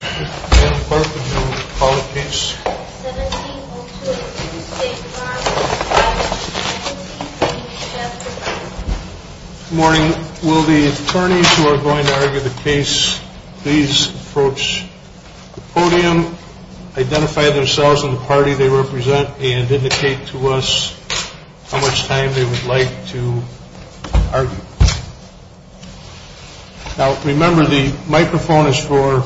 Good morning. Will the attorneys who are going to argue the case please approach the podium, identify themselves and the party they represent, and indicate to us how much time they would like to argue. Now remember the microphone is for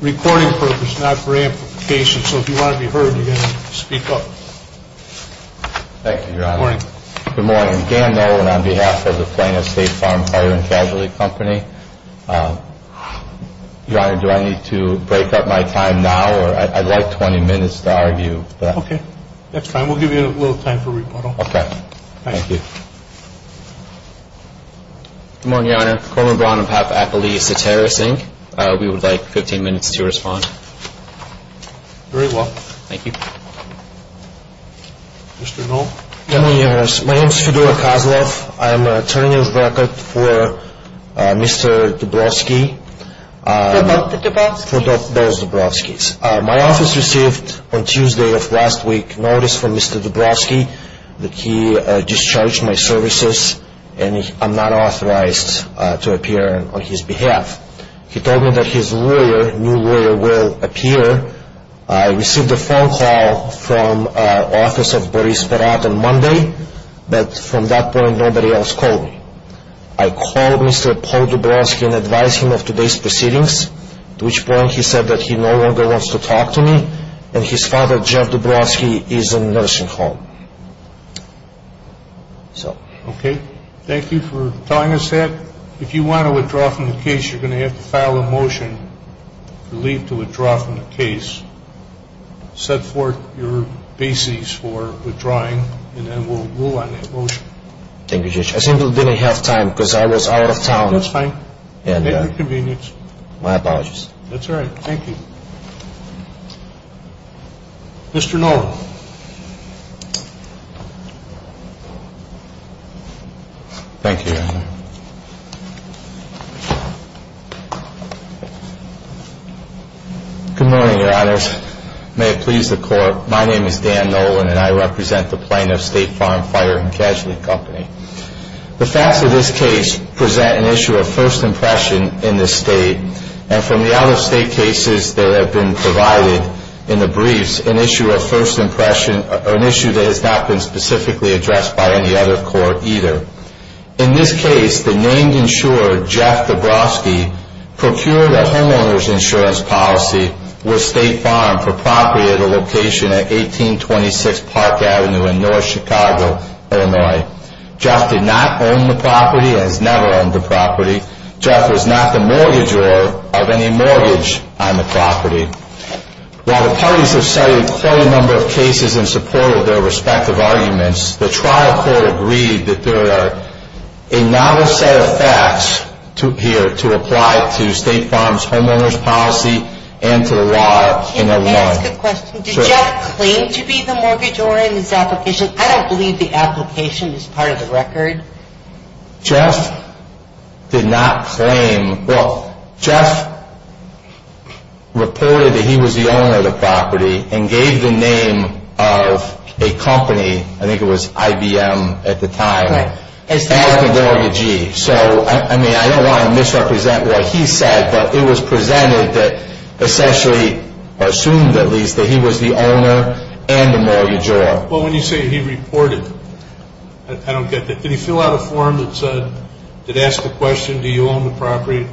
recording purposes, not for amplification. So if you want to be heard, you're going to speak up. Thank you, Your Honor. Good morning. Good morning. Dan Nolan on behalf of the Flannery State Farm & Casualty Company. Your Honor, do I need to break up my time now or I'd like 20 minutes to argue. Okay. That's fine. We'll give you a little time for rebuttal. Okay. Thank you. Good morning, Your Honor. Cormer Brown on behalf of Appalachia Soterra Sync. We would like 15 minutes to respond. Very well. Thank you. Mr. Knoll. Good morning, Your Honor. My name is Fedor Kozlov. I am an attorney on record for Mr. Debrovsky. For both the Debrovskys? My office received on Tuesday of last week notice from Mr. Debrovsky that he discharged my services and I'm not authorized to appear on his behalf. He told me that his lawyer, new lawyer, will appear. I received a phone call from Office of Boris Perot on Monday, but from that point nobody else called me. I called Mr. Paul Debrovsky and advised him of today's proceedings, to which point he said that he no longer wants to talk to me and his father, Jeff Debrovsky, is in a nursing home. Okay. Thank you for telling us that. If you want to withdraw from the case, you're going to have to file a motion to leave to withdraw from the case. Set forth your basis for withdrawing and then we'll rule on that motion. Thank you, Judge. I seem to have didn't have time because I was out of town. That's fine. Make your convenience. My apologies. That's all right. Thank you. Mr. Nolan. Thank you, Your Honor. Good morning, Your Honors. May it please the Court, my name is Dan Nolan and I represent the plaintiff, State Farm Fire and Casualty Company. The facts of this case present an issue of first impression in the state and from the out-of-state cases that have been provided in the briefs, an issue of first impression, an issue that has not been specifically addressed by any other court either. In this case, the named insurer, Jeff Debrovsky, procured a homeowner's insurance policy with State Farm for property at a location at 1826 Park Avenue in North Chicago, Illinois. Jeff did not own the property and has never owned the property. Jeff was not the mortgagor of any mortgage on the property. While the parties have cited quite a number of cases in support of their respective arguments, the trial court agreed that there are a novel set of facts here to apply to State Farm's homeowners policy and to the law in Illinois. Can I ask a question? Sure. Did Jeff claim to be the mortgagor in this application? Jeff did not claim. Well, Jeff reported that he was the owner of the property and gave the name of a company, I think it was IBM at the time, as the mortgagee. So, I mean, I don't want to misrepresent what he said, but it was presented that essentially, or assumed at least, that he was the owner and the mortgagor. Well, when you say he reported, I don't get that. Did he fill out a form that said, that asked the question, do you own the property,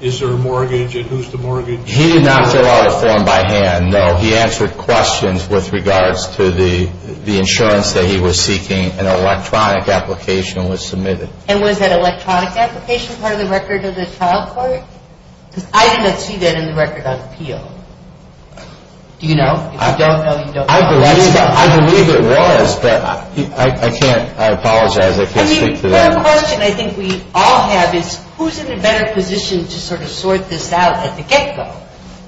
is there a mortgage, and who's the mortgagee? He did not fill out a form by hand, no. He answered questions with regards to the insurance that he was seeking. An electronic application was submitted. And was that electronic application part of the record of the trial court? Because I did not see that in the record on appeal. Do you know? If you don't know, you don't know. I believe it was, but I can't, I apologize, I can't speak to that. I mean, the question I think we all have is, who's in a better position to sort of sort this out at the get-go?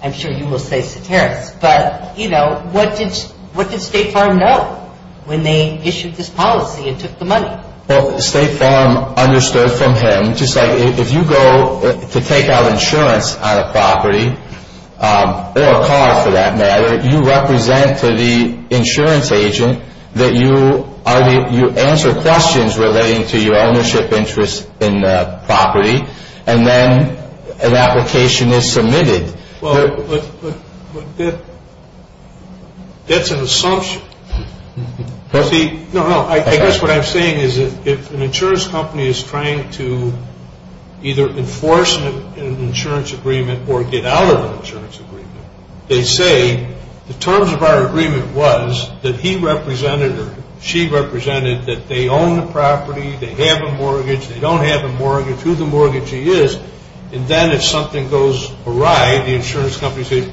I'm sure you will say Sataris. But, you know, what did State Farm know when they issued this policy and took the money? Well, State Farm understood from him, just like if you go to take out insurance on a property, or a car for that matter, you represent to the insurance agent that you answer questions relating to your ownership interest in the property, and then an application is submitted. Well, that's an assumption. See, no, no, I guess what I'm saying is if an insurance company is trying to either enforce an insurance agreement or get out of an insurance agreement, they say, the terms of our agreement was that he represented or she represented that they own the property, they have a mortgage, they don't have a mortgage, who the mortgagee is, and then if something goes awry, the insurance company says,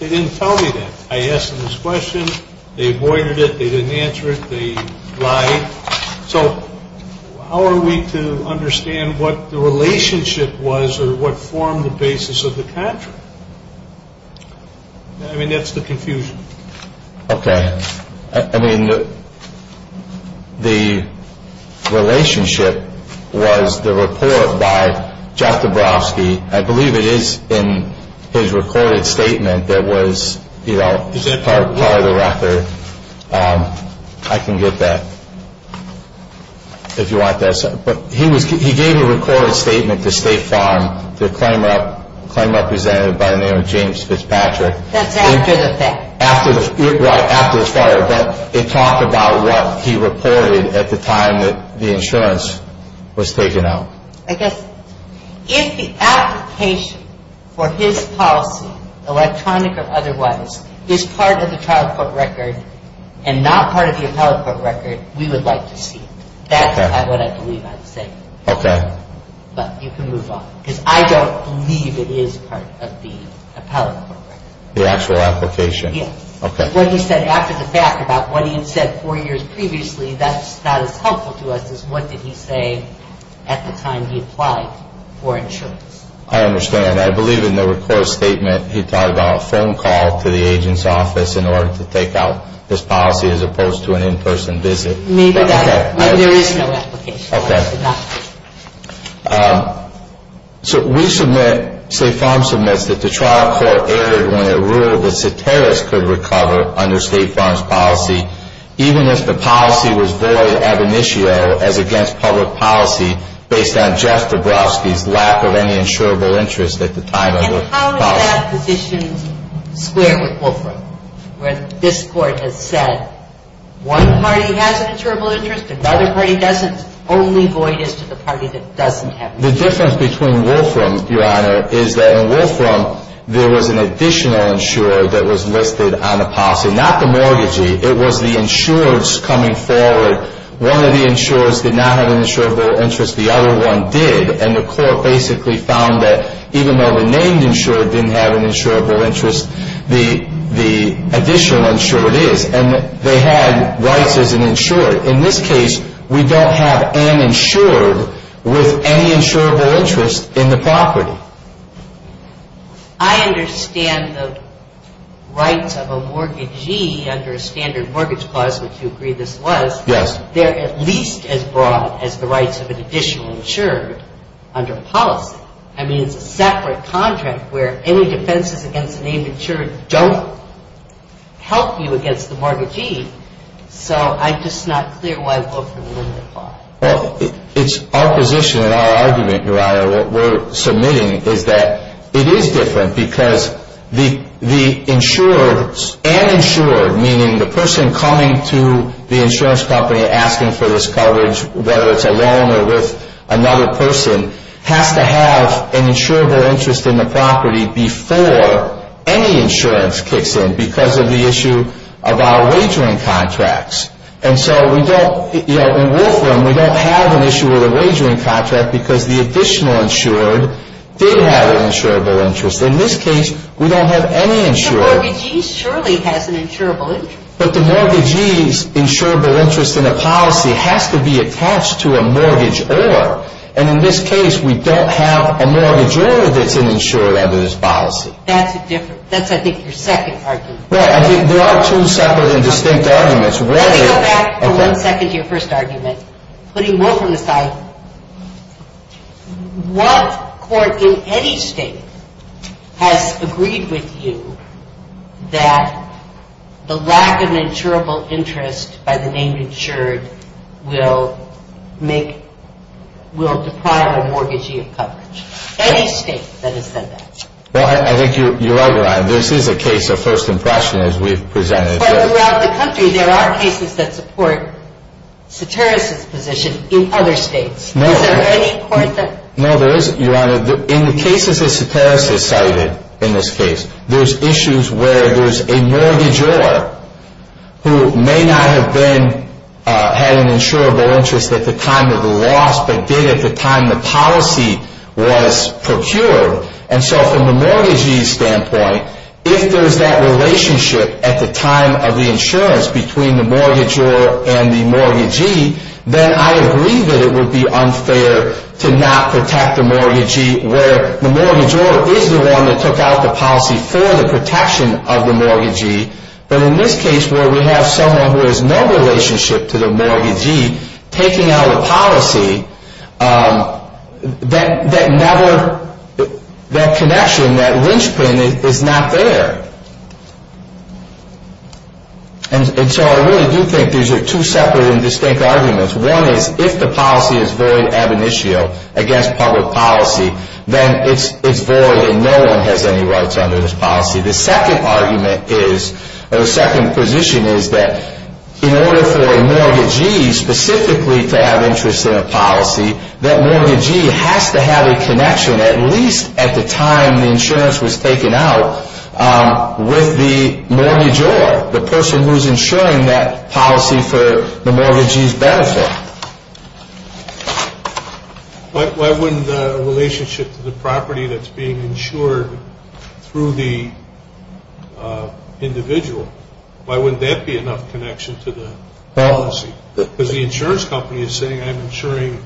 they didn't tell me that. I asked them this question, they avoided it, they didn't answer it, they lied. So how are we to understand what the relationship was or what formed the basis of the contract? I mean, that's the confusion. Okay. I mean, the relationship was the report by Jeff Dabrowski. I believe it is in his recorded statement that was, you know, part of the record. I can get that if you want that. But he gave a recorded statement to State Farm, the claim representative by the name of James Fitzpatrick. That's after the fact. Right, after the fire. But it talked about what he reported at the time that the insurance was taken out. I guess if the application for his policy, electronic or otherwise, is part of the trial court record and not part of the appellate court record, we would like to see it. That's what I believe I would say. Okay. But you can move on. Because I don't believe it is part of the appellate court record. The actual application? Yes. Okay. What he said after the fact about what he had said four years previously, that is helpful to us, is what did he say at the time he applied for insurance? I understand. I believe in the recorded statement he talked about a phone call to the agent's office in order to take out this policy as opposed to an in-person visit. Maybe that. There is no application. Okay. So we submit, State Farm submits, that the trial court erred when it ruled that Soteris could recover under State Farm's policy even if the policy was void ab initio as against public policy based on Jeff Dabrowski's lack of any insurable interest at the time of the policy. And how is that positioned square with Wolfram, where this Court has said one party has an insurable interest, another party doesn't, only void is to the party that doesn't have an insurable interest? The difference between Wolfram, Your Honor, is that in Wolfram there was an additional insurer that was listed on the policy. Not the mortgagee. It was the insurers coming forward. One of the insurers did not have an insurable interest. The other one did. And the Court basically found that even though the named insurer didn't have an insurable interest, the additional insurer did. And they had rights as an insurer. In this case, we don't have an insured with any insurable interest in the property. I understand the rights of a mortgagee under a standard mortgage clause, which you agree this was. Yes. They're at least as broad as the rights of an additional insurer under policy. I mean, it's a separate contract where any defenses against a named insurer don't help you against the mortgagee. So I'm just not clear why Wolfram wouldn't apply. Well, it's our position and our argument, Your Honor, what we're submitting is that it is different because the insurer and insured, meaning the person coming to the insurance company asking for this coverage, whether it's alone or with another person, has to have an insurable interest in the property before any insurance kicks in because of the issue of our wagering contracts. And so we don't, you know, in Wolfram, we don't have an issue with a wagering contract because the additional insured did have an insurable interest. In this case, we don't have any insured. But the mortgagee surely has an insurable interest. But the mortgagee's insurable interest in a policy has to be attached to a mortgage or. And in this case, we don't have a mortgage or that's an insured under this policy. That's a different, that's I think your second argument. Well, I think there are two separate and distinct arguments. Let me go back for one second to your first argument. Putting Wolfram aside, what court in any state has agreed with you that the lack of an insurable interest by the name insured will make, will deprive a mortgagee of coverage? Any state that has said that. Well, I think you're right, Your Honor. This is a case of first impression as we've presented. But throughout the country, there are cases that support Soteris' position in other states. No. Is there any court that? No, there isn't, Your Honor. In the cases that Soteris has cited in this case, there's issues where there's a mortgagee who may not have been, had an insurable interest at the time of the loss, but did at the time the policy was procured. And so from the mortgagee's standpoint, if there's that relationship at the time of the insurance between the mortgagor and the mortgagee, then I agree that it would be unfair to not protect the mortgagee where the mortgagor is the one that took out the policy for the protection of the mortgagee. But in this case where we have someone who has no relationship to the mortgagee taking out a policy, that never, that connection, that linchpin is not there. And so I really do think these are two separate and distinct arguments. One is if the policy is void ab initio against public policy, then it's void and no one has any rights under this policy. The second argument is, or the second position is that in order for a mortgagee specifically to have interest in a policy, that mortgagee has to have a connection at least at the time the insurance was taken out with the mortgagor, the person who's insuring that policy for the mortgagee's benefit. Why wouldn't the relationship to the property that's being insured through the individual, why wouldn't that be enough connection to the policy? Because the insurance company is saying I'm insuring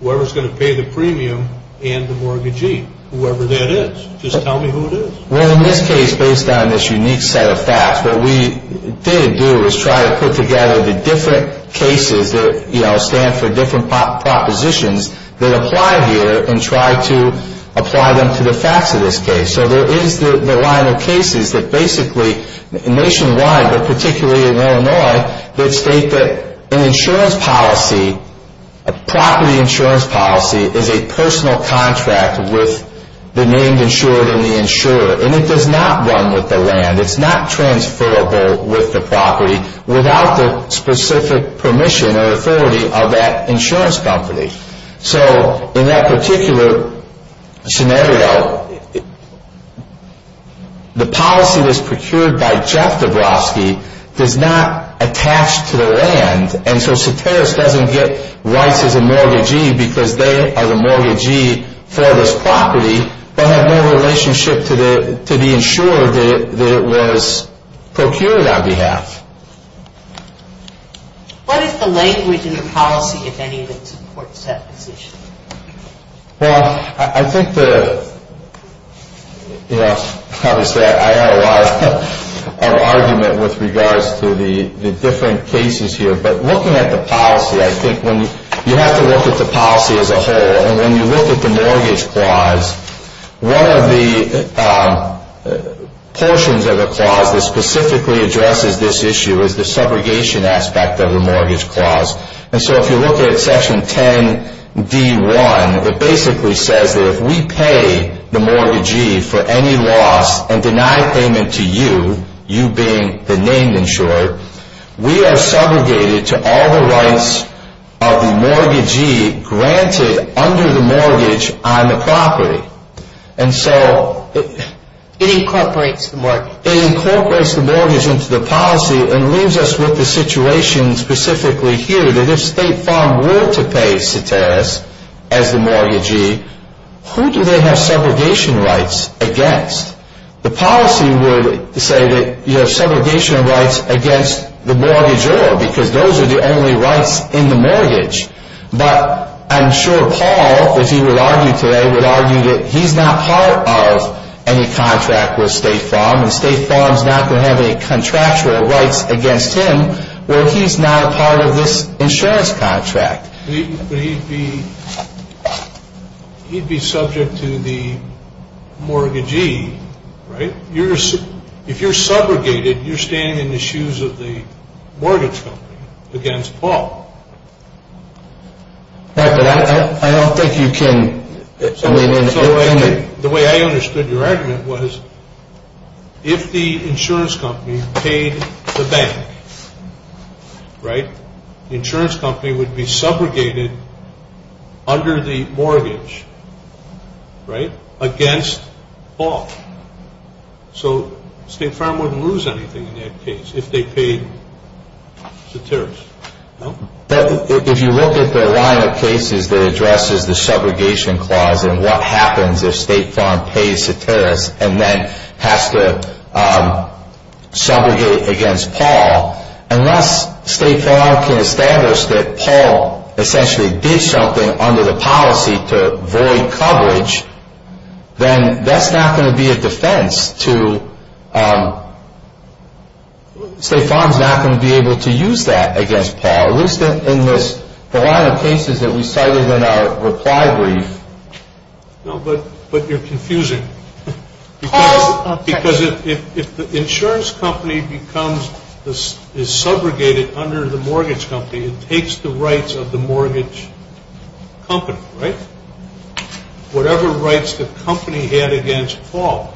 whoever's going to pay the premium and the mortgagee, whoever that is, just tell me who it is. Well, in this case, based on this unique set of facts, what we did do was try to put together the different cases that stand for different propositions that apply here and try to apply them to the facts of this case. So there is the line of cases that basically nationwide, but particularly in Illinois, that state that an insurance policy, a property insurance policy, is a personal contract with the named insurer and the insurer. And it does not run with the land. It's not transferable with the property without the specific permission or authority of that insurance company. So in that particular scenario, the policy that's procured by Jeff Dabrowski does not attach to the land. And so Soteris doesn't get rights as a mortgagee because they are the mortgagee for this property but have no relationship to the insurer that it was procured on behalf. What is the language in the policy, if any, that supports that position? Well, I think the, you know, obviously I have a lot of argument with regards to the different cases here. But looking at the policy, I think when you have to look at the policy as a whole and when you look at the mortgage clause, one of the portions of the clause that specifically addresses this issue is the subrogation aspect of the mortgage clause. And so if you look at Section 10d1, it basically says that if we pay the mortgagee for any loss and deny payment to you, you being the named insurer, we are subrogated to all the rights of the mortgagee granted under the mortgage on the property. And so it incorporates the mortgage into the policy and leaves us with the situation specifically here that if State Farm were to pay Soteris as the mortgagee, who do they have subrogation rights against? The policy would say that you have subrogation rights against the mortgagee because those are the only rights in the mortgage. But I'm sure Paul, if he would argue today, would argue that he's not part of any contract with State Farm and State Farm's not going to have any contractual rights against him where he's not a part of this insurance contract. But he'd be subject to the mortgagee, right? If you're subrogated, you're standing in the shoes of the mortgage company against Paul. I don't think you can. The way I understood your argument was if the insurance company paid the bank, right, the insurance company would be subrogated under the mortgage, right, against Paul. So State Farm wouldn't lose anything in that case if they paid Soteris, no? If you look at the line of cases that addresses the subrogation clause and what happens if State Farm pays Soteris and then has to subrogate against Paul, unless State Farm can establish that Paul essentially did something under the policy to void coverage, then that's not going to be a defense to State Farm's not going to be able to use that against Paul, at least in the line of cases that we cited in our reply brief. No, but you're confusing. Because if the insurance company is subrogated under the mortgage company, it takes the rights of the mortgage company, right? Whatever rights the company had against Paul.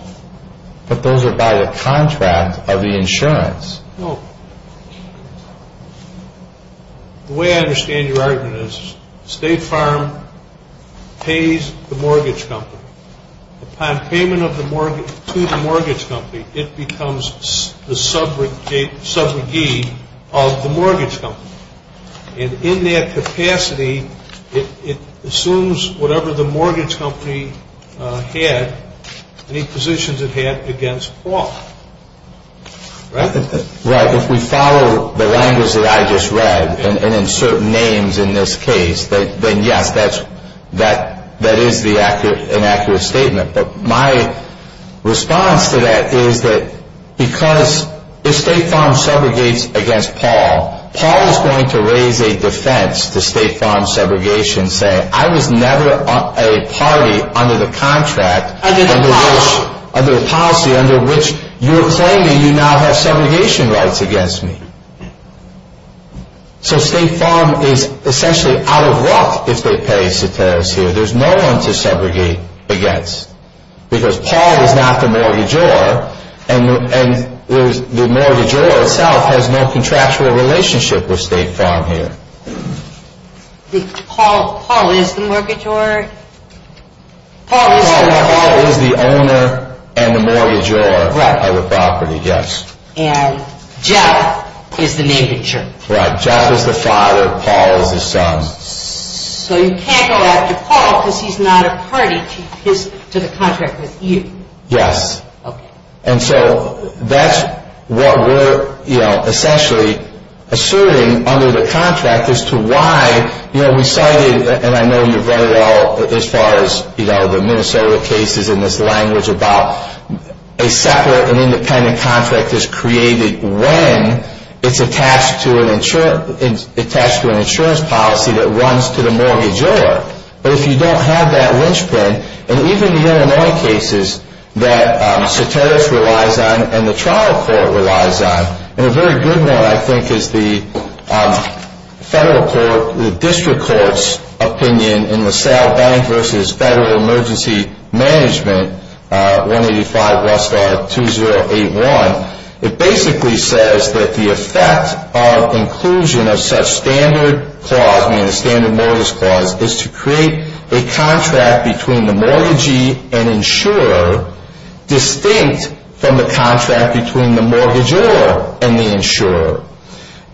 But those are by the contract of the insurance. No. The way I understand your argument is State Farm pays the mortgage company. Upon payment to the mortgage company, it becomes the subrogate of the mortgage company. And in that capacity, it assumes whatever the mortgage company had, any positions it had against Paul, right? Right. If we follow the language that I just read and insert names in this case, then yes, that is an accurate statement. But my response to that is that because if State Farm subrogates against Paul, Paul is going to raise a defense to State Farm's subrogation, and say, I was never a party under the policy under which you're claiming you now have subrogation rights against me. So State Farm is essentially out of luck if they pay Sateros here. There's no one to subrogate against. Because Paul is not the mortgagor, and the mortgagor itself has no contractual relationship with State Farm here. Paul is the mortgagor? Paul is the owner and the mortgagor of the property, yes. And Jeff is the name that you're... Right. Jeff is the father. Paul is the son. So you can't go after Paul because he's not a party to the contract with you. Yes. Okay. And so that's what we're essentially asserting under the contract as to why we cited, and I know you've read it all as far as the Minnesota cases in this language about a separate and independent contract that's created when it's attached to an insurance policy that runs to the mortgagor. But if you don't have that linchpin, and even the Illinois cases that Sateros relies on and the trial court relies on, and a very good one, I think, is the federal court, the district court's opinion in the Sal Bank v. Federal Emergency Management, 185 Westar 2081, it basically says that the effect of inclusion of such standard clause, meaning a standard mortgage clause, is to create a contract between the mortgagee and insurer distinct from the contract between the mortgagor and the insurer.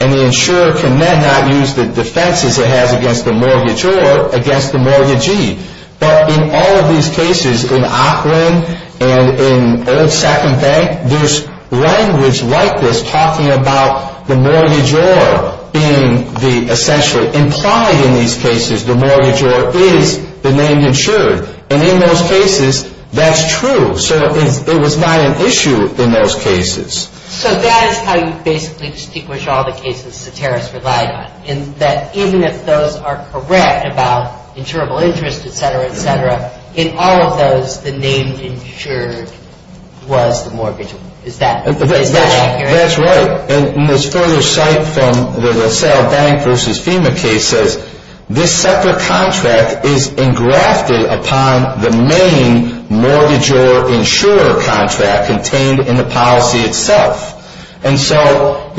And the insurer can then not use the defenses it has against the mortgagor against the mortgagee. But in all of these cases, in Auckland and in Old Second Bank, there's language like this talking about the mortgagor being the essentially implied in these cases, the mortgagor is the name insured. And in those cases, that's true. So it was not an issue in those cases. So that is how you basically distinguish all the cases Sateros relied on, in that even if those are correct about insurable interest, et cetera, et cetera, in all of those, the name insured was the mortgage. Is that accurate? That's right. And this further cite from the Sal Bank v. FEMA case says, this separate contract is engrafted upon the main mortgagor-insurer contract contained in the policy itself. And so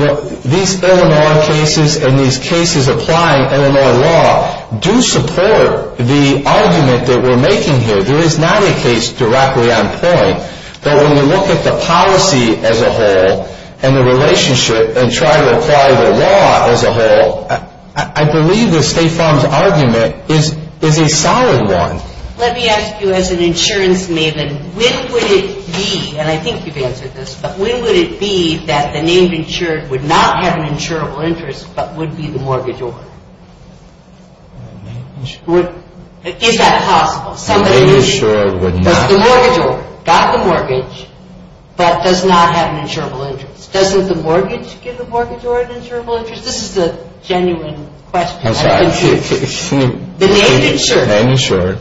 these Illinois cases and these cases applying Illinois law do support the argument that we're making here. There is not a case directly on point. But when we look at the policy as a whole and the relationship and try to apply the law as a whole, I believe the State Farm's argument is a solid one. Let me ask you as an insurance maven, when would it be, and I think you've answered this, but when would it be that the name insured would not have an insurable interest but would be the mortgagor? Name insured? Is that possible? Name insured would not? Because the mortgagor got the mortgage but does not have an insurable interest. Doesn't the mortgage give the mortgagor an insurable interest? This is a genuine question. I'm sorry. The name insured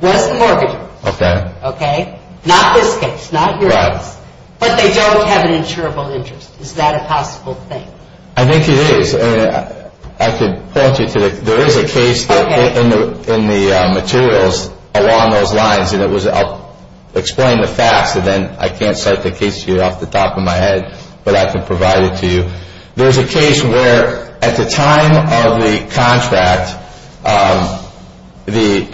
was the mortgagor. Okay. Okay. Not this case. Not your case. Right. But they don't have an insurable interest. Is that a possible thing? I think it is. I could point you to it. There is a case in the materials along those lines, and I'll explain the facts, and then I can't cite the case to you off the top of my head, but I can provide it to you. There's a case where at the time of the contract, the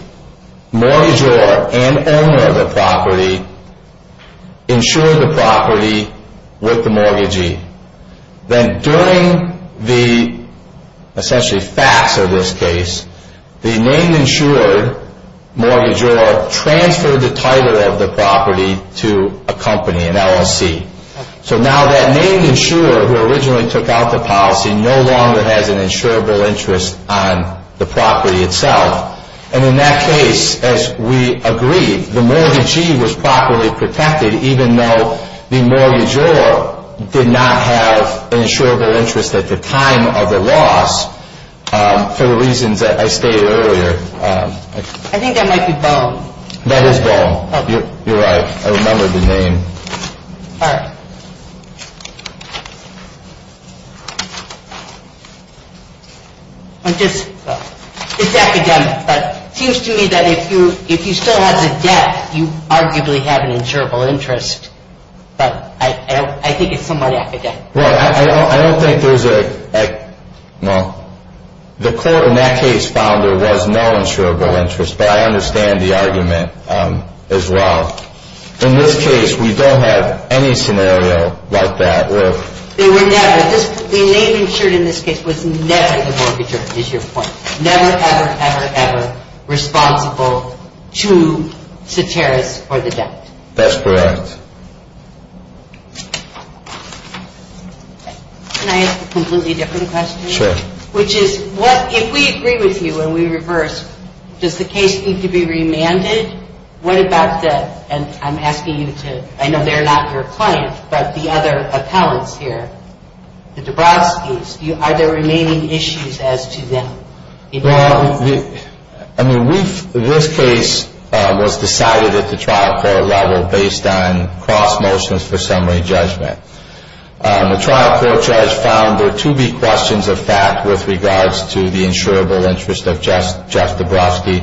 mortgagor and owner of the property insured the property with the mortgagee. Then during the, essentially, facts of this case, the name insured mortgagor transferred the title of the property to a company, an LLC. So now that name insurer who originally took out the policy no longer has an insurable interest on the property itself. And in that case, as we agreed, the mortgagee was properly protected, even though the mortgagor did not have an insurable interest at the time of the loss for the reasons that I stated earlier. I think that might be Boehm. That is Boehm. You're right. I remembered the name. All right. It's academic, but it seems to me that if you still have the debt, you arguably have an insurable interest. But I think it's somewhat academic. Well, I don't think there's a, well, the court in that case found there was no insurable interest, but I understand the argument as well. In this case, we don't have any scenario like that. There were never. The name insured in this case was never the mortgagor, is your point, never, ever, ever, ever responsible to satirists or the debt. That's correct. Can I ask a completely different question? Sure. Which is, if we agree with you and we reverse, does the case need to be remanded? What about the, and I'm asking you to, I know they're not your client, but the other appellants here, the Dabrowski's, are there remaining issues as to them? Well, I mean, this case was decided at the trial court level based on cross motions for summary judgment. The trial court judge found there to be questions of fact with regards to the insurable interest of Jeff Dabrowski.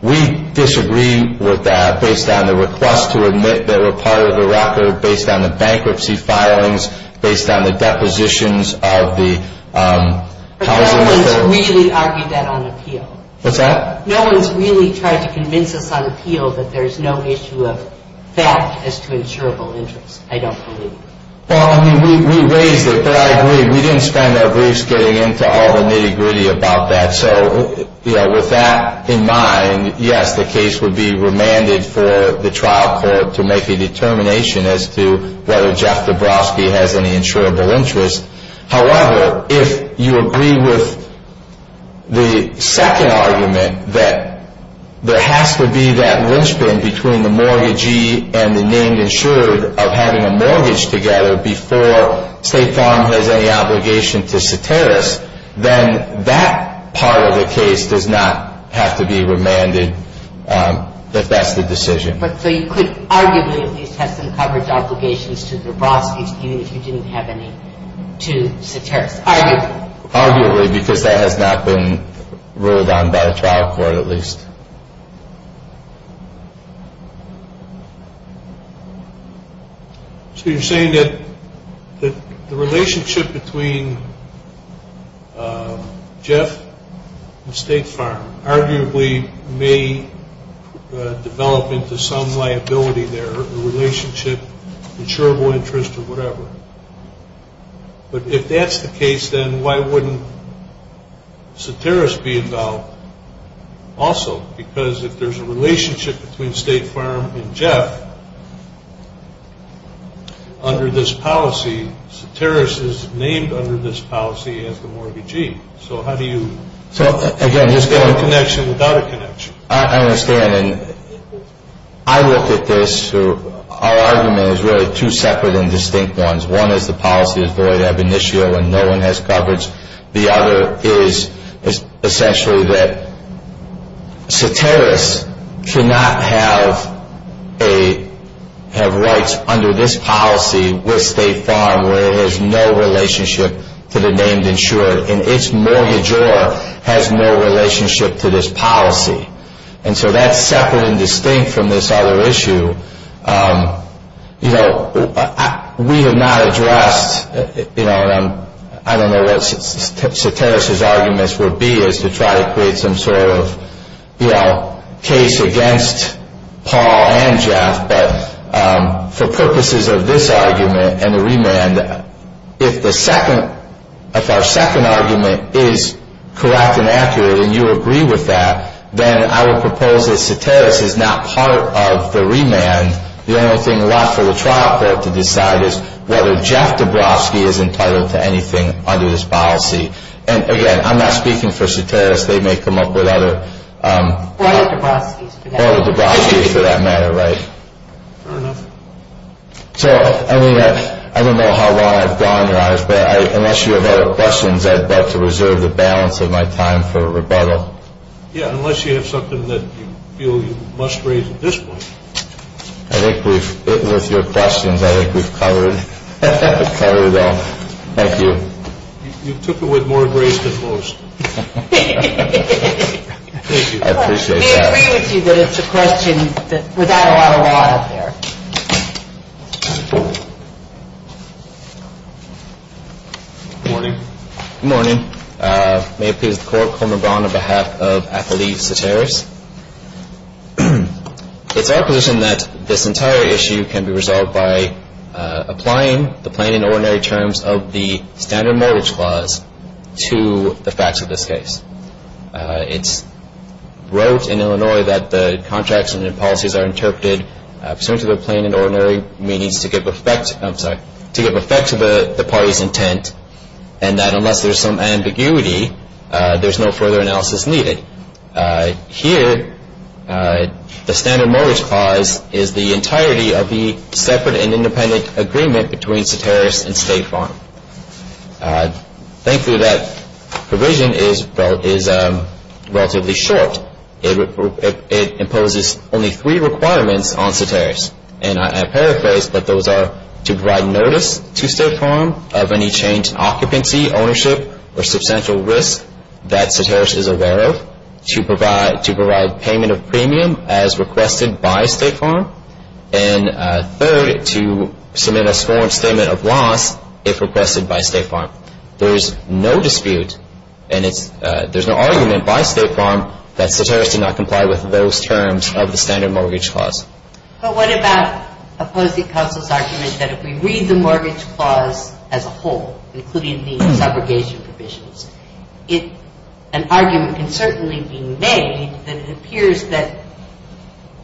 We disagree with that based on the request to admit they were part of the record, based on the bankruptcy filings, based on the depositions of the housing. But no one's really argued that on appeal. What's that? No one's really tried to convince us on appeal that there's no issue of fact as to insurable interest, I don't believe. Well, I mean, we raised it, but I agree. We didn't spend our briefs getting into all the nitty-gritty about that. So, you know, with that in mind, yes, the case would be remanded for the trial court to make a determination as to whether Jeff Dabrowski has any insurable interest. However, if you agree with the second argument that there has to be that linchpin between the mortgagee and the named insured of having a mortgage together before State Farm has any obligation to Soteris, then that part of the case does not have to be remanded if that's the decision. But so you could arguably at least have some coverage obligations to Dabrowski, even if you didn't have any to Soteris, arguably. Arguably, because that has not been ruled on by the trial court, at least. So you're saying that the relationship between Jeff and State Farm arguably may develop into some liability there, a relationship, insurable interest or whatever. But if that's the case, then why wouldn't Soteris be involved also? Because if there's a relationship between State Farm and Jeff under this policy, Soteris is named under this policy as the mortgagee. So how do you... So, again, there's no connection without a connection. I understand, and I look at this, our argument is really two separate and distinct ones. One is the policy of void ab initio and no one has coverage. The other is essentially that Soteris cannot have rights under this policy with State Farm where it has no relationship to the named insured, and its mortgagor has no relationship to this policy. And so that's separate and distinct from this other issue. We have not addressed, I don't know what Soteris's arguments would be, is to try to create some sort of case against Paul and Jeff. But for purposes of this argument and the remand, if our second argument is correct and accurate and you agree with that, then I would propose that Soteris is not part of the remand. The only thing left for the trial court to decide is whether Jeff Dabrowski is entitled to anything under this policy. And, again, I'm not speaking for Soteris. They may come up with other... Fair enough. So, I mean, I don't know how long I've gone, but unless you have other questions, I'd like to reserve the balance of my time for rebuttal. Yeah, unless you have something that you feel you must raise at this point. I think we've hit with your questions. I think we've covered all. Thank you. You took it with more grace than most. Thank you. I appreciate that. I agree with you that it's a question without a lot of law out there. Good morning. Good morning. May it please the Court, Coleman Braun on behalf of athlete Soteris. It's our position that this entire issue can be resolved by applying the plain and ordinary terms of the standard mortgage clause to the facts of this case. It's wrote in Illinois that the contracts and policies are interpreted pursuant to the plain and ordinary means to give effect to the party's intent and that unless there's some ambiguity, there's no further analysis needed. Here, the standard mortgage clause is the entirety of the separate and independent agreement between Soteris and State Farm. Thankfully, that provision is relatively short. It imposes only three requirements on Soteris, and I paraphrase, but those are to provide notice to State Farm of any change in occupancy, ownership, or substantial risk that Soteris is aware of, to provide payment of premium as requested by State Farm, and third, to submit a sworn statement of loss if requested by State Farm. There is no dispute and there's no argument by State Farm that Soteris did not comply with those terms of the standard mortgage clause. But what about opposing counsel's argument that if we read the mortgage clause as a whole, including the subrogation provisions, an argument can certainly be made that it appears that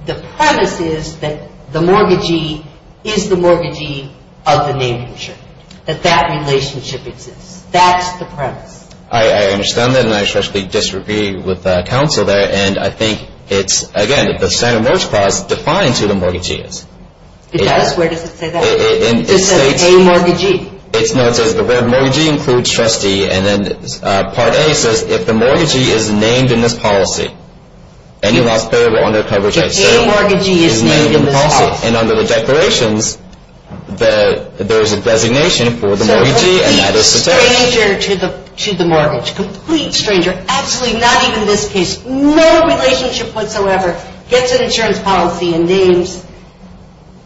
the premise is that the mortgagee is the mortgagee of the name-consumer, that that relationship exists. That's the premise. I understand that, and I especially disagree with counsel there, and I think it's, again, the standard mortgage clause defines who the mortgagee is. It does? Where does it say that? It just says, a mortgagee. No, it says the mortgagee includes trustee, and then Part A says, if the mortgagee is named in this policy, any loss paid will undergo coverage. If any mortgagee is named in this policy? And under the declarations, there is a designation for the mortgagee, and that is Soteris. So a complete stranger to the mortgage, a complete stranger, absolutely not even in this case, no relationship whatsoever, gets an insurance policy and names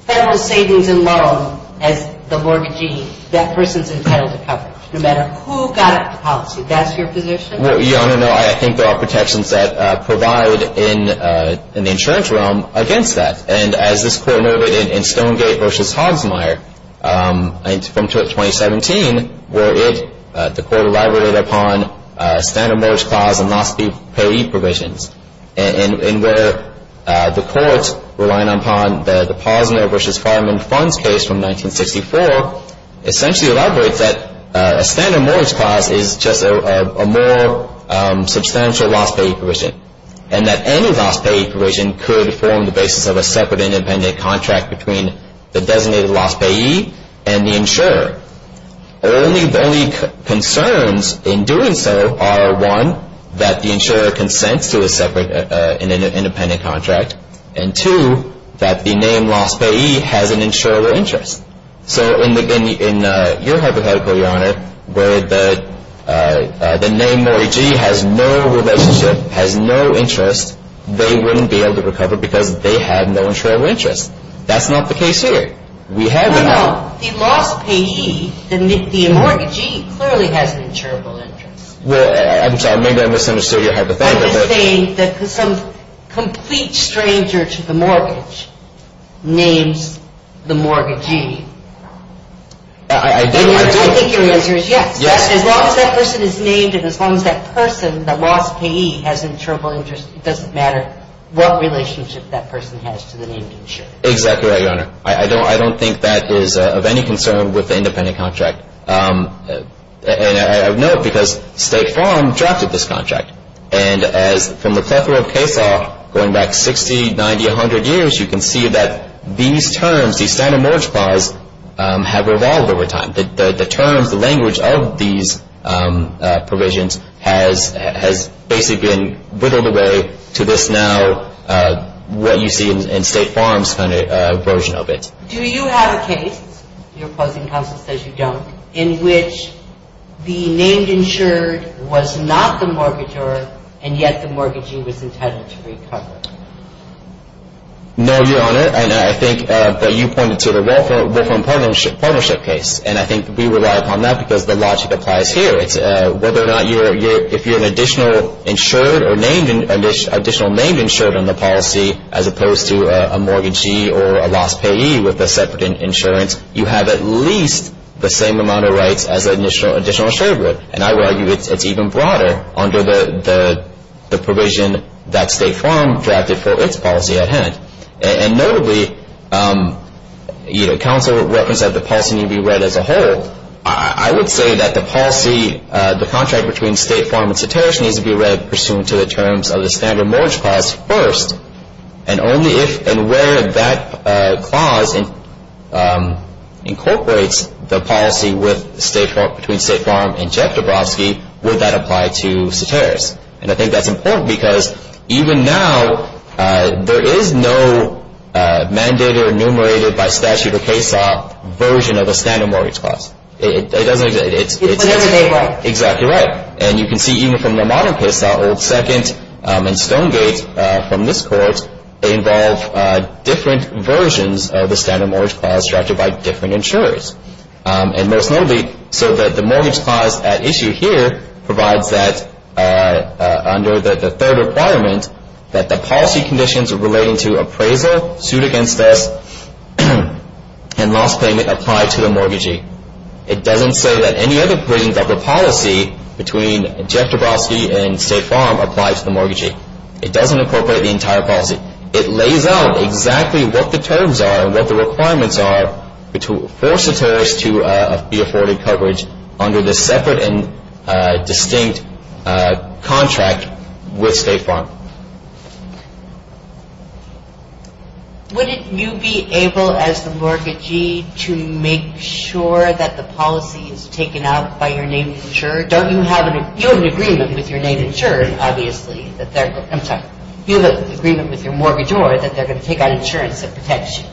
Federal Savings and Loan as the mortgagee, that person's entitled to coverage, no matter who got it, the policy. That's your position? Yeah, I don't know. I think there are protections that provide in the insurance realm against that. And as this Court noted in Stonegate v. Hogsmeyer from 2017, where the Court elaborated upon standard mortgage clause and loss payee provisions, and where the Court, relying upon the Posner v. Farman funds case from 1964, essentially elaborates that a standard mortgage clause is just a more substantial loss payee provision, and that any loss payee provision could form the basis of a separate independent contract between the designated loss payee and the insurer. The only concerns in doing so are, one, that the insurer consents to a separate independent contract, and two, that the name loss payee has an insurable interest. So in your hypothetical, Your Honor, where the name mortgagee has no relationship, has no interest, they wouldn't be able to recover because they have no insurable interest. That's not the case here. No, no. The loss payee, the mortgagee, clearly has an insurable interest. Well, I'm sorry. Maybe I misunderstood your hypothetical. I'm just saying that some complete stranger to the mortgage names the mortgagee. I do. I do. I think your answer is yes. Yes. As long as that person is named and as long as that person, the loss payee, has an insurable interest, it doesn't matter what relationship that person has to the named insurer. Exactly right, Your Honor. I don't think that is of any concern with the independent contract. And I know it because State Farm drafted this contract. And from the plethora of case law going back 60, 90, 100 years, you can see that these terms, these standard mortgage clause, have evolved over time. The terms, the language of these provisions has basically been whittled away to this now, what you see in State Farm's version of it. Do you have a case, your opposing counsel says you don't, in which the named insured was not the mortgagor and yet the mortgagee was intended to recover? No, Your Honor. And I think that you pointed to the welfare and partnership case. And I think we rely upon that because the logic applies here. It's whether or not if you're an additional insured or additional named insured on the policy as opposed to a mortgagee or a lost payee with a separate insurance, you have at least the same amount of rights as an additional insured. And I would argue it's even broader under the provision that State Farm drafted for its policy at hand. And notably, counsel referenced that the policy need be read as a whole. I would say that the policy, the contract between State Farm and Satterish, needs to be read pursuant to the terms of the Standard Mortgage Clause first. And only if and where that clause incorporates the policy between State Farm and Jeff Dabrowski, would that apply to Satterish. And I think that's important because even now, there is no mandated or enumerated by statute or case law version of the Standard Mortgage Clause. It doesn't exist. It was never enumerated. Exactly right. And you can see even from the modern case law, Old Second and Stonegate from this court, they involve different versions of the Standard Mortgage Clause drafted by different insurers. And most notably, so that the Mortgage Clause at issue here provides that under the third requirement, that the policy conditions relating to appraisal, suit against this, and lost payment apply to the mortgagee. It doesn't say that any other provisions of the policy between Jeff Dabrowski and State Farm apply to the mortgagee. It doesn't incorporate the entire policy. It lays out exactly what the terms are and what the requirements are for Satterish to be afforded coverage under this separate and distinct contract with State Farm. Would you be able, as the mortgagee, to make sure that the policy is taken out by your name insurer? Don't you have an agreement with your name insurer, obviously, that they're going to – I'm sorry. You have an agreement with your mortgagee that they're going to take out insurance that protects you.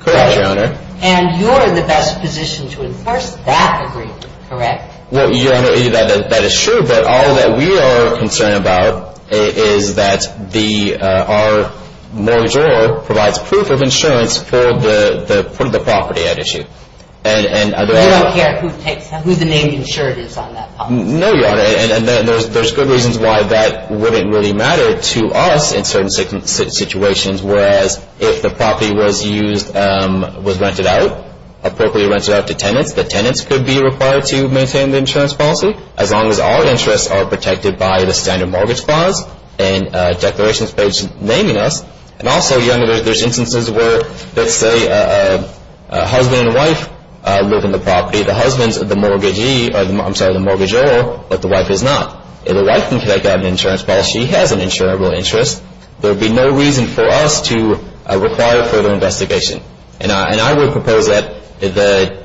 Correct, Your Honor. And you're in the best position to enforce that agreement, correct? Well, Your Honor, that is true. But all that we are concerned about is that our mortgagor provides proof of insurance for the property at issue. You don't care who the name insured is on that policy? No, Your Honor. And there's good reasons why that wouldn't really matter to us in certain situations, whereas if the property was used – was rented out, appropriately rented out to tenants, the tenants could be required to maintain the insurance policy, as long as our interests are protected by the standard mortgage clause and declarations page naming us. And also, Your Honor, there's instances where, let's say, a husband and wife live in the property. The husband's the mortgagee – I'm sorry, the mortgagor, but the wife is not. If the wife can take out an insurance policy, has an insurable interest, there would be no reason for us to require further investigation. And I would propose that the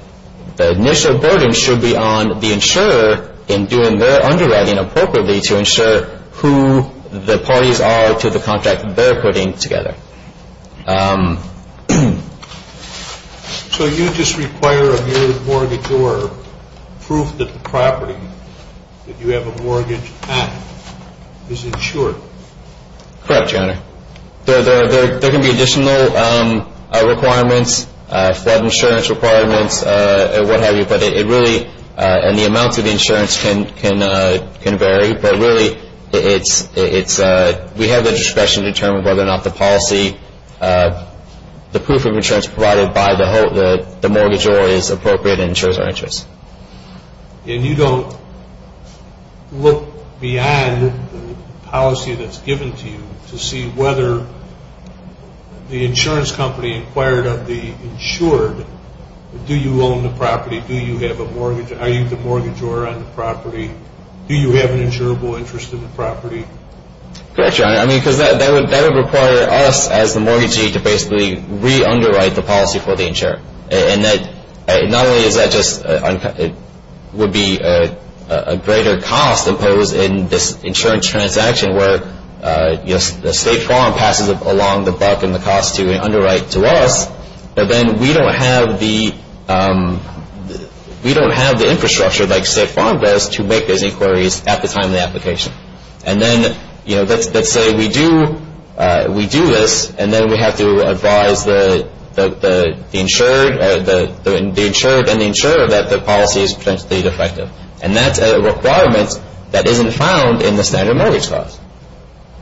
initial burden should be on the insurer in doing their underwriting appropriately to ensure who the parties are to the contract they're putting together. So you just require a mortgagor proof that the property that you have a mortgage at is insured? Correct, Your Honor. There can be additional requirements, flood insurance requirements, what have you, but it really – and the amounts of the insurance can vary, but really it's – we have the discretion to determine whether or not the policy – the proof of insurance provided by the mortgagor is appropriate and ensures our interest. And you don't look beyond the policy that's given to you to see whether the insurance company inquired of the insured, do you own the property, do you have a mortgage – are you the mortgagor on the property, do you have an insurable interest in the property? Correct, Your Honor. I mean, because that would require us as the mortgagee And not only is that just – would be a greater cost imposed in this insurance transaction where the State Farm passes along the buck and the cost to underwrite to us, but then we don't have the infrastructure like State Farm does to make those inquiries at the time of the application. And then, you know, let's say we do this and then we have to advise the insured and the insurer that the policy is potentially defective. And that's a requirement that isn't found in the standard mortgage clause.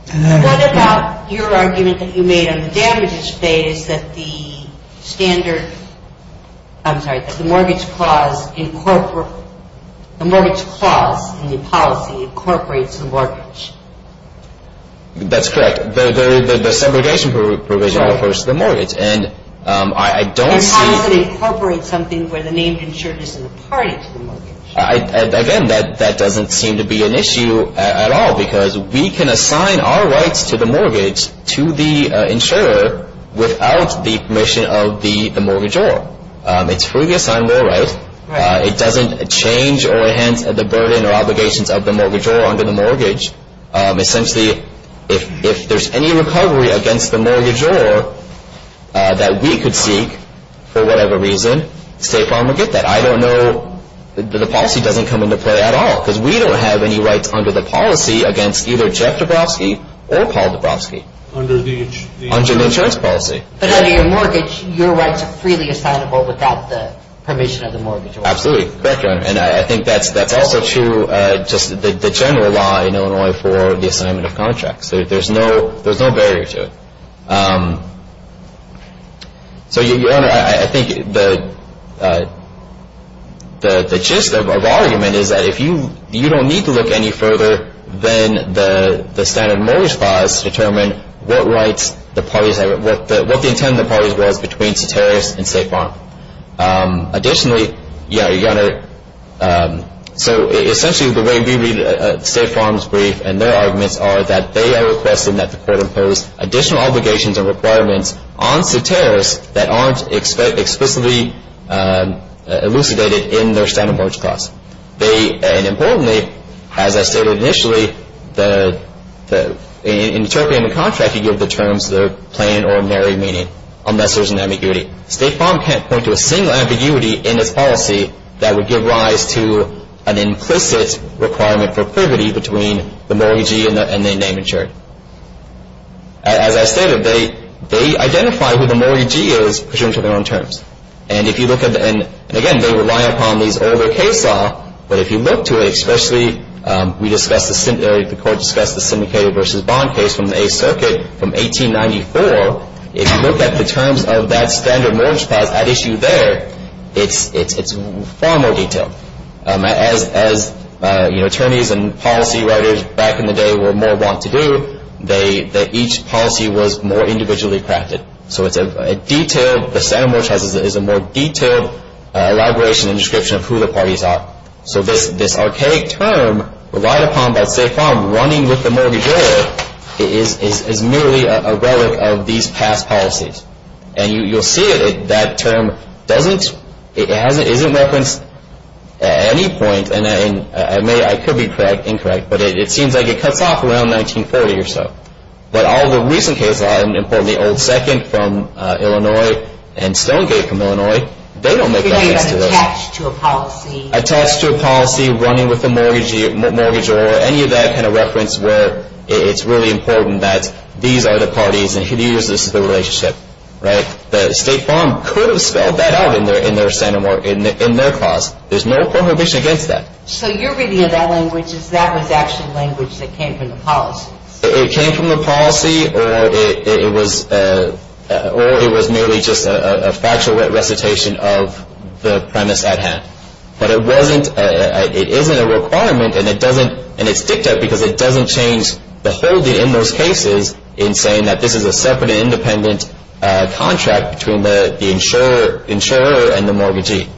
What about your argument that you made on the damages phase that the standard – I'm sorry, that the mortgage clause incorporates – the mortgage clause in the policy incorporates the mortgage? That's correct. The segregation provision refers to the mortgage. And I don't see – And how does it incorporate something where the named insured isn't a party to the mortgage? Again, that doesn't seem to be an issue at all, because we can assign our rights to the mortgage to the insurer without the permission of the mortgagor. It's freely assigned more rights. It doesn't change or enhance the burden or obligations of the mortgagor under the mortgage. Essentially, if there's any recovery against the mortgagor that we could seek for whatever reason, State Farm would get that. I don't know – the policy doesn't come into play at all, because we don't have any rights under the policy against either Jeff Dabrowski or Paul Dabrowski. Under the – Under the insurance policy. But under your mortgage, your rights are freely assignable without the permission of the mortgagor. Absolutely. Correct, Your Honor. And I think that's also true just – the general law in Illinois for the assignment of contracts. There's no barrier to it. So, Your Honor, I think the gist of our argument is that if you – if you look any further than the standard mortgage clause to determine what rights the parties – what the intent of the parties was between Sutteris and State Farm. Additionally, Your Honor, so essentially the way we read State Farm's brief and their arguments are that they are requesting that the court impose additional obligations and requirements on Sutteris that aren't explicitly elucidated in their standard mortgage clause. They – and importantly, as I stated initially, in interpreting the contract, you give the terms their plain and ordinary meaning, unless there's an ambiguity. State Farm can't point to a single ambiguity in its policy that would give rise to an implicit requirement for privity between the mortgagee and the name insured. As I stated, they identify who the mortgagee is presumed to their own terms. And if you look at the – and again, they rely upon these older case law, but if you look to it, especially we discussed the – the court discussed the syndicated versus bond case from the Eighth Circuit from 1894. If you look at the terms of that standard mortgage clause at issue there, it's far more detailed. As, you know, attorneys and policy writers back in the day were more wont to do, they – each policy was more individually crafted. So it's a detailed – the standard mortgage has a more detailed elaboration and description of who the parties are. So this archaic term relied upon by State Farm running with the mortgagee is merely a relic of these past policies. And you'll see that that term doesn't – it hasn't – isn't referenced at any point. And I may – I could be correct, incorrect, but it seems like it cuts off around 1940 or so. But all the recent case law, importantly, Old Second from Illinois and Stonegate from Illinois, they don't make reference to this. They're not attached to a policy. Attached to a policy running with the mortgagee or any of that kind of reference where it's really important that these are the parties and who uses the relationship, right? The State Farm could have spelled that out in their standard mortgage – in their clause. There's no prohibition against that. So you're reading it that language as that was actually language that came from the policies. It came from the policy or it was merely just a factual recitation of the premise at hand. But it wasn't – it isn't a requirement and it doesn't – and it's dicked up because it doesn't change the holding in those cases in saying that this is a separate and independent contract between the insurer and the mortgagee.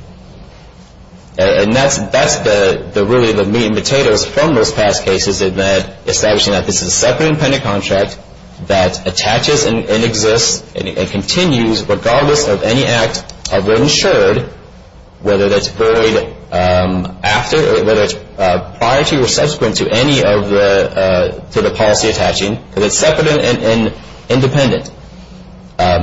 And that's really the meat and potatoes from those past cases in that establishing that this is a separate and independent contract that attaches and exists and continues regardless of any act of what insured, whether that's void after or whether it's prior to or subsequent to any of the – to the policy attaching, because it's separate and independent.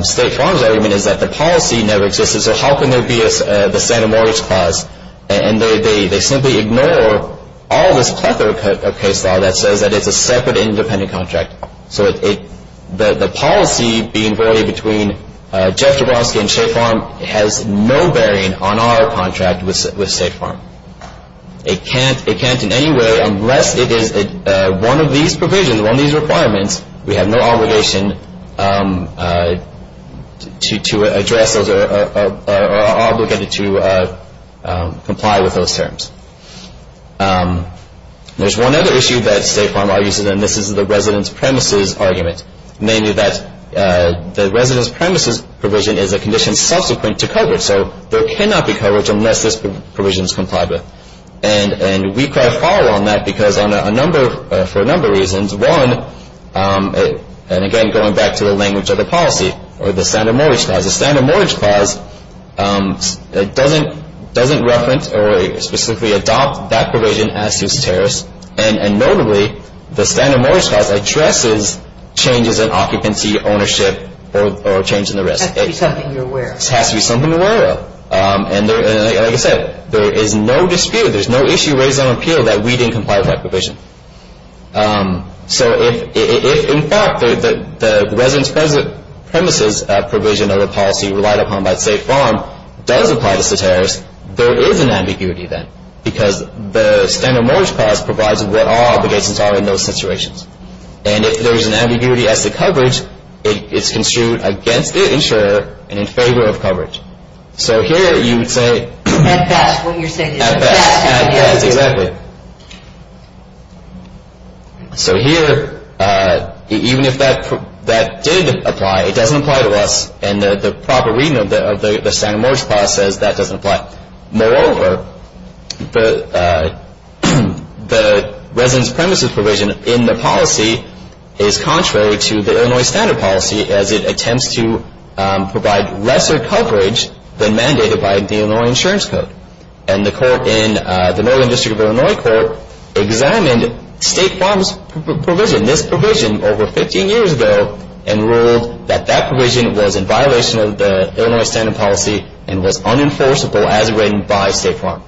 State Farm's argument is that the policy never existed. So how can there be the standard mortgage clause? And they simply ignore all this plethora of case law that says that it's a separate and independent contract. So the policy being void between Jeff Jablonski and State Farm has no bearing on our contract with State Farm. It can't in any way, unless it is one of these provisions, one of these requirements, we have no obligation to address those or are obligated to comply with those terms. There's one other issue that State Farm argues, and this is the residence premises argument, namely that the residence premises provision is a condition subsequent to coverage. So there cannot be coverage unless this provision is complied with. And we quite follow on that because on a number – for a number of reasons. One, and again, going back to the language of the policy or the standard mortgage clause, the standard mortgage clause doesn't – doesn't reference or specifically adopt that provision as to its tariffs. And notably, the standard mortgage clause addresses changes in occupancy, ownership, or a change in the risk. It has to be something you're aware of. It has to be something you're aware of. And like I said, there is no dispute, there's no issue raised on appeal that we didn't comply with that provision. So if in fact the residence premises provision of the policy relied upon by State Farm does apply to tariffs, there is an ambiguity then because the standard mortgage clause provides what all obligations are in those situations. And if there is an ambiguity as to coverage, it's construed against the insurer and in favor of coverage. So here you would say – At best, what you're saying is – At best. At best, exactly. So here, even if that did apply, it doesn't apply to us. And the proper reading of the standard mortgage clause says that doesn't apply. Moreover, the residence premises provision in the policy is contrary to the Illinois standard policy as it attempts to provide lesser coverage than mandated by the Illinois insurance code. And the court in the Northern District of Illinois Court examined State Farm's provision, this provision, over 15 years ago and ruled that that provision was in violation of the Illinois standard policy and was unenforceable as written by State Farm.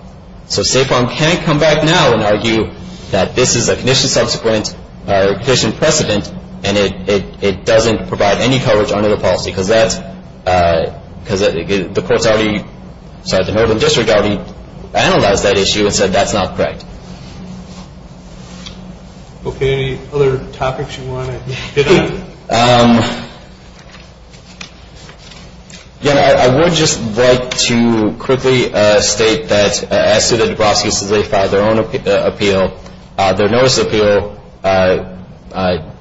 So State Farm can't come back now and argue that this is a condition subsequent or condition precedent and it doesn't provide any coverage under the policy because that's – because the courts already – sorry, the Northern District already analyzed that issue and said that's not correct. Okay, any other topics you want to hit on? Yeah, I would just like to quickly state that as to the Dubrovskis as they filed their own appeal, their notice of appeal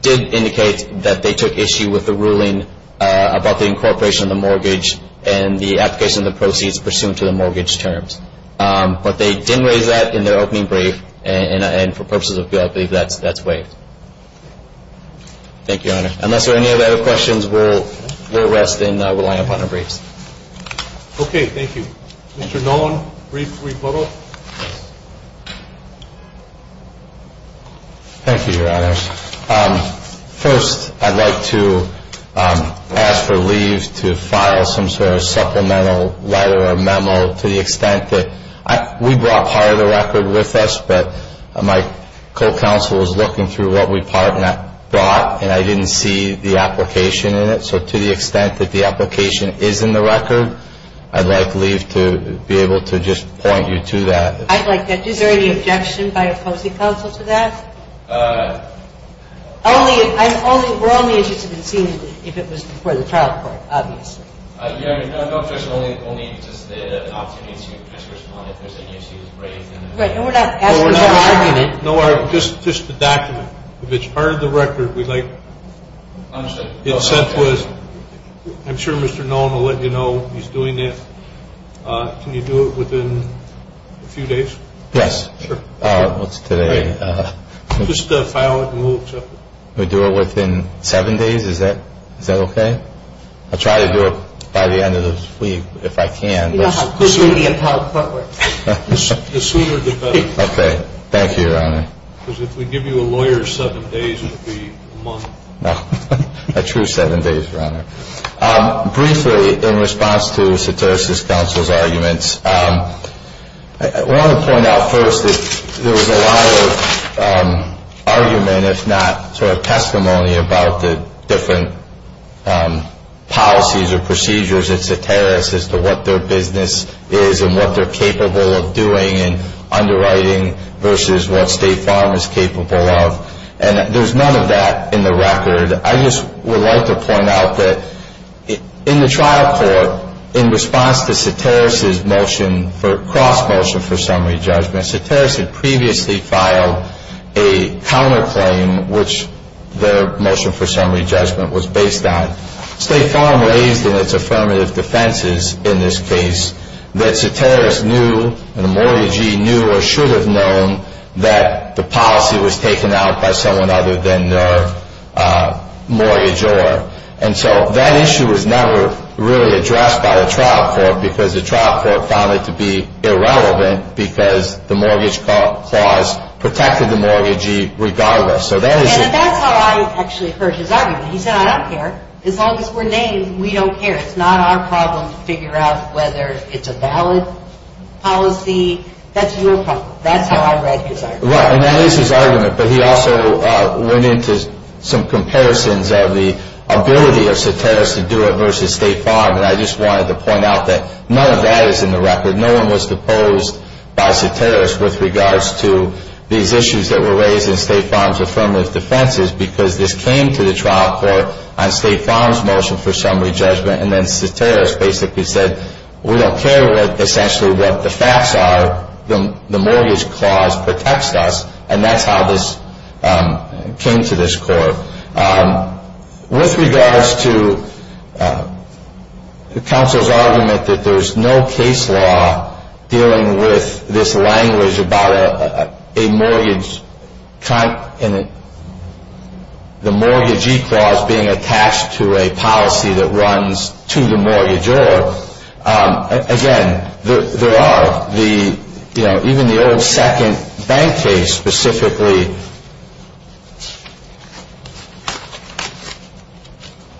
did indicate that they took issue with the ruling about the incorporation of the mortgage and the application of the proceeds pursuant to the mortgage terms. But they didn't raise that in their opening brief, and for purposes of appeal, I believe that's waived. Thank you, Your Honor. Unless there are any other questions, we'll rest and we'll wind up on our briefs. Okay, thank you. Mr. Nolan, brief rebuttal. Thank you, Your Honor. First, I'd like to ask for leave to file some sort of supplemental letter or memo to the extent that – we brought part of the record with us, but my co-counsel was looking through what we brought and I didn't see the application in it. So to the extent that the application is in the record, I'd like leave to be able to just point you to that. I'd like that. Is there any objection by a co-counsel to that? Only – we're only interested in seeing if it was before the trial court, obviously. Yeah, I mean, no objection, only just the option is to just respond if there's any issues raised. Right, and we're not asking for argument. No, just the document. If it's part of the record, we'd like – I'm sure Mr. Nolan will let you know he's doing it. Can you do it within a few days? Yes. Sure. What's today? Just file it and we'll accept it. Can we do it within seven days? Is that okay? I'll try to do it by the end of the week if I can. Yeah, I'll put you in the entire court room. The sooner the better. Okay, thank you, Your Honor. Because if we give you a lawyer seven days, it'll be a month. No, a true seven days, Your Honor. Briefly, in response to Soterios' counsel's arguments, I want to point out first that there was a lot of argument, if not sort of testimony, about the different policies or procedures at Soterios as to what their business is and what they're capable of doing and underwriting versus what State Farm is capable of. And there's none of that in the record. I just would like to point out that in the trial court, in response to Soterios' motion for cross-motion for summary judgment, Soterios had previously filed a counterclaim, which their motion for summary judgment was based on. State Farm raised in its affirmative defenses in this case that Soterios knew and a mortgagee knew or should have known that the policy was taken out by someone other than their mortgage owner. And so that issue was never really addressed by the trial court because the trial court found it to be irrelevant because the mortgage clause protected the mortgagee regardless. And that's how I actually heard his argument. He said, I don't care. As long as we're named, we don't care. It's not our problem to figure out whether it's a valid policy. That's your problem. That's how I read his argument. Right. And that is his argument. But he also went into some comparisons of the ability of Soterios to do it versus State Farm. And I just wanted to point out that none of that is in the record. No one was deposed by Soterios with regards to these issues that were raised in State Farm's affirmative defenses because this came to the trial court on State Farm's motion for summary judgment. And then Soterios basically said, we don't care essentially what the facts are. The mortgage clause protects us. And that's how this came to this court. With regards to counsel's argument that there's no case law dealing with this language about a mortgage and the mortgagee clause being attached to a policy that runs to the mortgagor, again, there are. Even the old second bank case specifically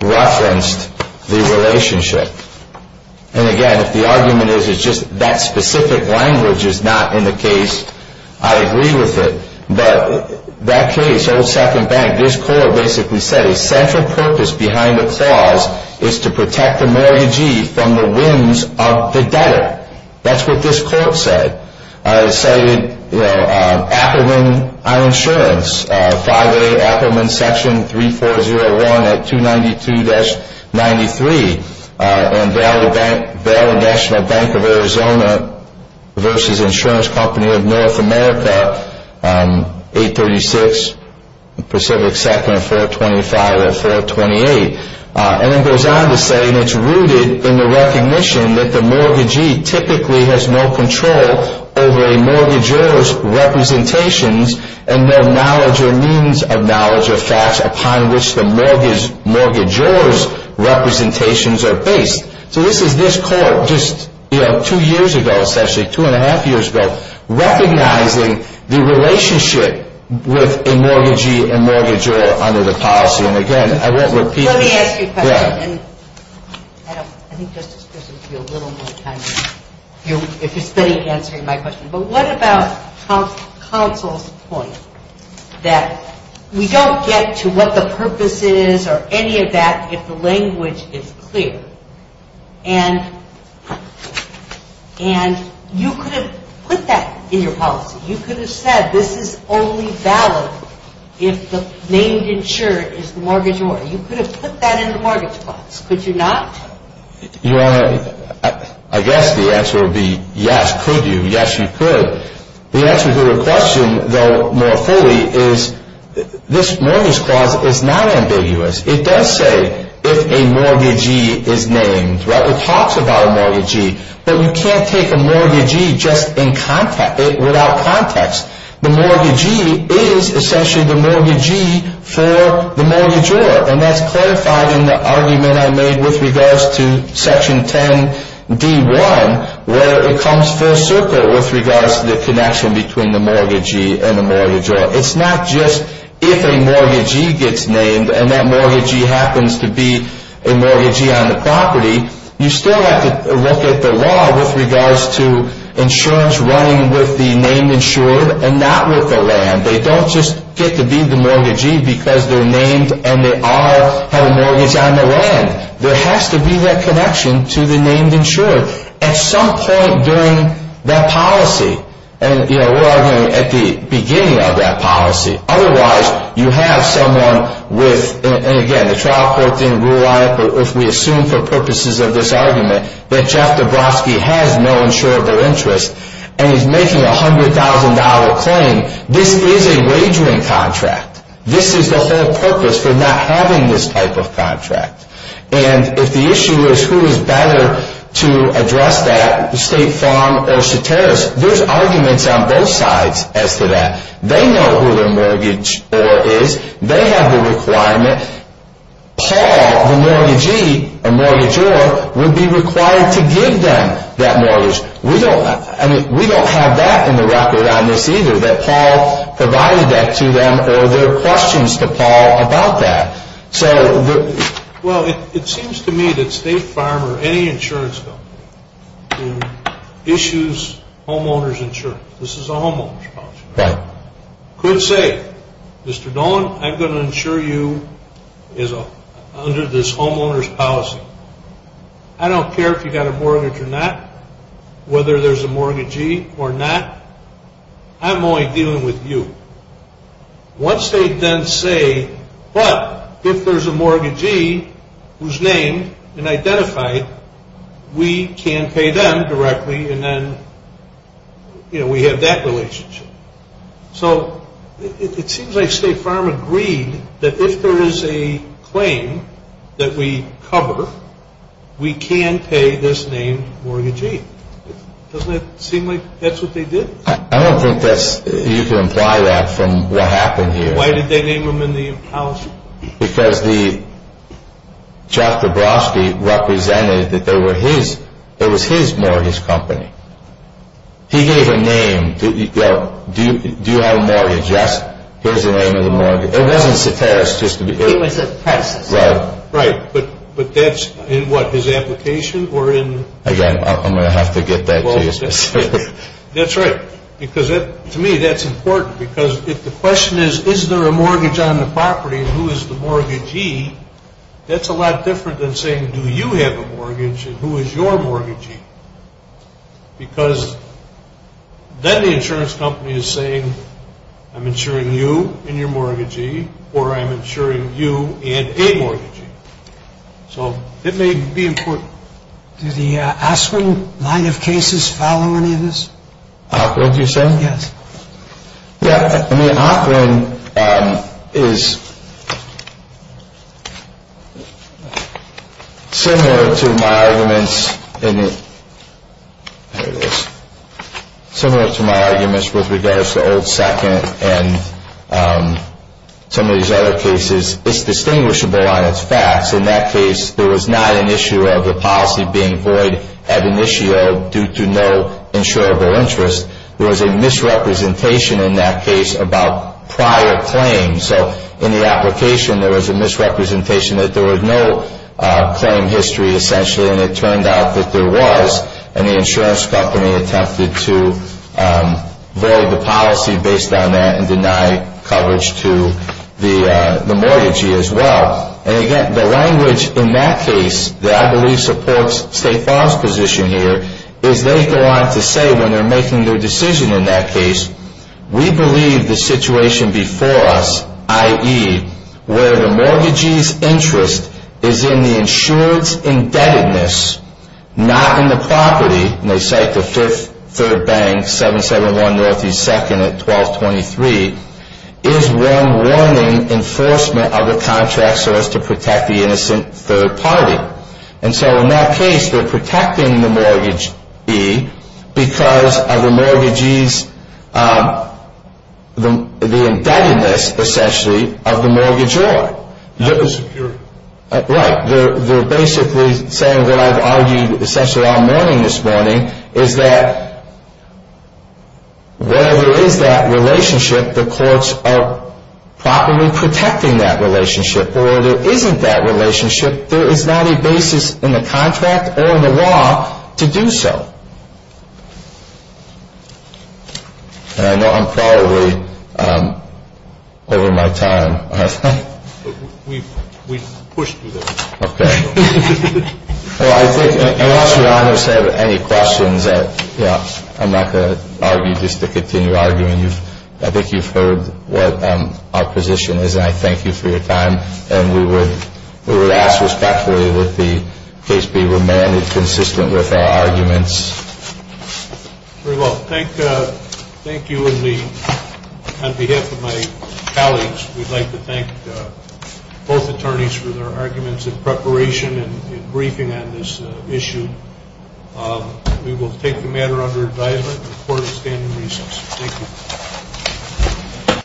referenced the relationship. And again, if the argument is it's just that specific language is not in the case, I agree with it. But that case, old second bank, this court basically said a central purpose behind the clause is to protect the mortgagee from the whims of the debtor. That's what this court said. It cited Appelman Insurance, 508 Appelman Section 3401 at 292-93 and Valley National Bank of Arizona versus Insurance Company of North America, 836 Pacific 2nd at 425 at 428. And it goes on to say, and it's rooted in the recognition that the mortgagee typically has no control over a mortgagor's representations and no knowledge or means of knowledge or facts upon which the mortgagor's representations are based. So this is this court just two years ago, essentially, two and a half years ago, recognizing the relationship with a mortgagee and mortgagor under the policy. And again, I won't repeat this. Let me ask you a question. Yeah. And I don't know. I think Justice Grissom could be a little more kind if you're spending answering my question. But what about counsel's point that we don't get to what the purpose is or any of that if the language is clear? And you could have put that in your policy. You could have said this is only valid if the named insured is the mortgagor. You could have put that in the mortgage clause. Could you not? Your Honor, I guess the answer would be yes. Could you? Yes, you could. The answer to your question, though, more fully is this mortgage clause is not ambiguous. It does say if a mortgagee is named. It talks about a mortgagee. But you can't take a mortgagee just without context. The mortgagee is essentially the mortgagee for the mortgagor. And that's clarified in the argument I made with regards to Section 10d1, where it comes full circle with regards to the connection between the mortgagee and the mortgagor. It's not just if a mortgagee gets named and that mortgagee happens to be a mortgagee on the property. You still have to look at the law with regards to insurance running with the named insured and not with the land. They don't just get to be the mortgagee because they're named and they have a mortgage on the land. There has to be that connection to the named insured at some point during that policy. And we're arguing at the beginning of that policy. Otherwise, you have someone with, and again, the trial court didn't rule on it, but if we assume for purposes of this argument that Jeff Dabrowski has no insurable interest and he's making a $100,000 claim, this is a wagering contract. This is the whole purpose for not having this type of contract. And if the issue is who is better to address that, State Farm or Soteris, there's arguments on both sides as to that. They know who their mortgageor is. They have the requirement. Paul, the mortgagee or mortgageor, would be required to give them that mortgage. We don't have that in the record on this either, that Paul provided that to them or there are questions to Paul about that. Well, it seems to me that State Farm or any insurance company issues homeowner's insurance. This is a homeowner's policy. Could say, Mr. Dolan, I'm going to insure you under this homeowner's policy. I don't care if you've got a mortgage or not, whether there's a mortgagee or not. I'm only dealing with you. Once they then say, but if there's a mortgagee who's named and identified, we can pay them directly and then we have that relationship. So it seems like State Farm agreed that if there is a claim that we cover, we can pay this named mortgagee. Doesn't it seem like that's what they did? I don't think you can imply that from what happened here. Why did they name him in the policy? Because Chuck Dabrowski represented that it was his mortgage company. He gave a name. Do you have a mortgage? Yes. Here's the name of the mortgage. It wasn't Soteris. It was Pat Soteris. Right. But that's in what, his application? Again, I'm going to have to get that to you specifically. That's right. Because to me, that's important. Because if the question is, is there a mortgage on the property and who is the mortgagee, that's a lot different than saying, do you have a mortgage and who is your mortgagee? Because then the insurance company is saying, I'm insuring you and your mortgagee, or I'm insuring you and a mortgagee. So it may be important. Do the Ocklin line of cases follow any of this? Ocklin, you say? Yes. Yeah. I mean, Ocklin is similar to my arguments in the, there it is, similar to my arguments with regards to Old Second and some of these other cases. It's distinguishable on its facts. In that case, there was not an issue of the policy being void ad initio due to no insurable interest. There was a misrepresentation in that case about prior claims. So in the application, there was a misrepresentation that there was no claim history essentially, and it turned out that there was, and the insurance company attempted to void the policy based on that and deny coverage to the mortgagee as well. And again, the language in that case that I believe supports State Farm's position here is they go on to say when they're making their decision in that case, we believe the situation before us, i.e., where the mortgagee's interest is in the insurance indebtedness, not in the property, and they cite the Fifth Third Bank, 771 Northeast 2nd at 1223, is one warning enforcement of the contract so as to protect the innocent third party. And so in that case, they're protecting the mortgagee because of the mortgagee's, the indebtedness, essentially, of the mortgagee. Not the security. Right. They're basically saying what I've argued essentially all morning this morning is that where there is that relationship, the courts are properly protecting that relationship. But where there isn't that relationship, there is not a basis in the contract or in the law to do so. And I know I'm probably over my time, aren't I? We've pushed through this. Okay. Well, I think unless Your Honors have any questions, I'm not going to argue just to continue arguing. I think you've heard what our position is, and I thank you for your time. And we would ask respectfully that the case be remanded consistent with our arguments. Very well. Thank you on behalf of my colleagues. We'd like to thank both attorneys for their arguments and preparation and briefing on this issue. We will take the matter under advisement. The court is standing recess. Thank you.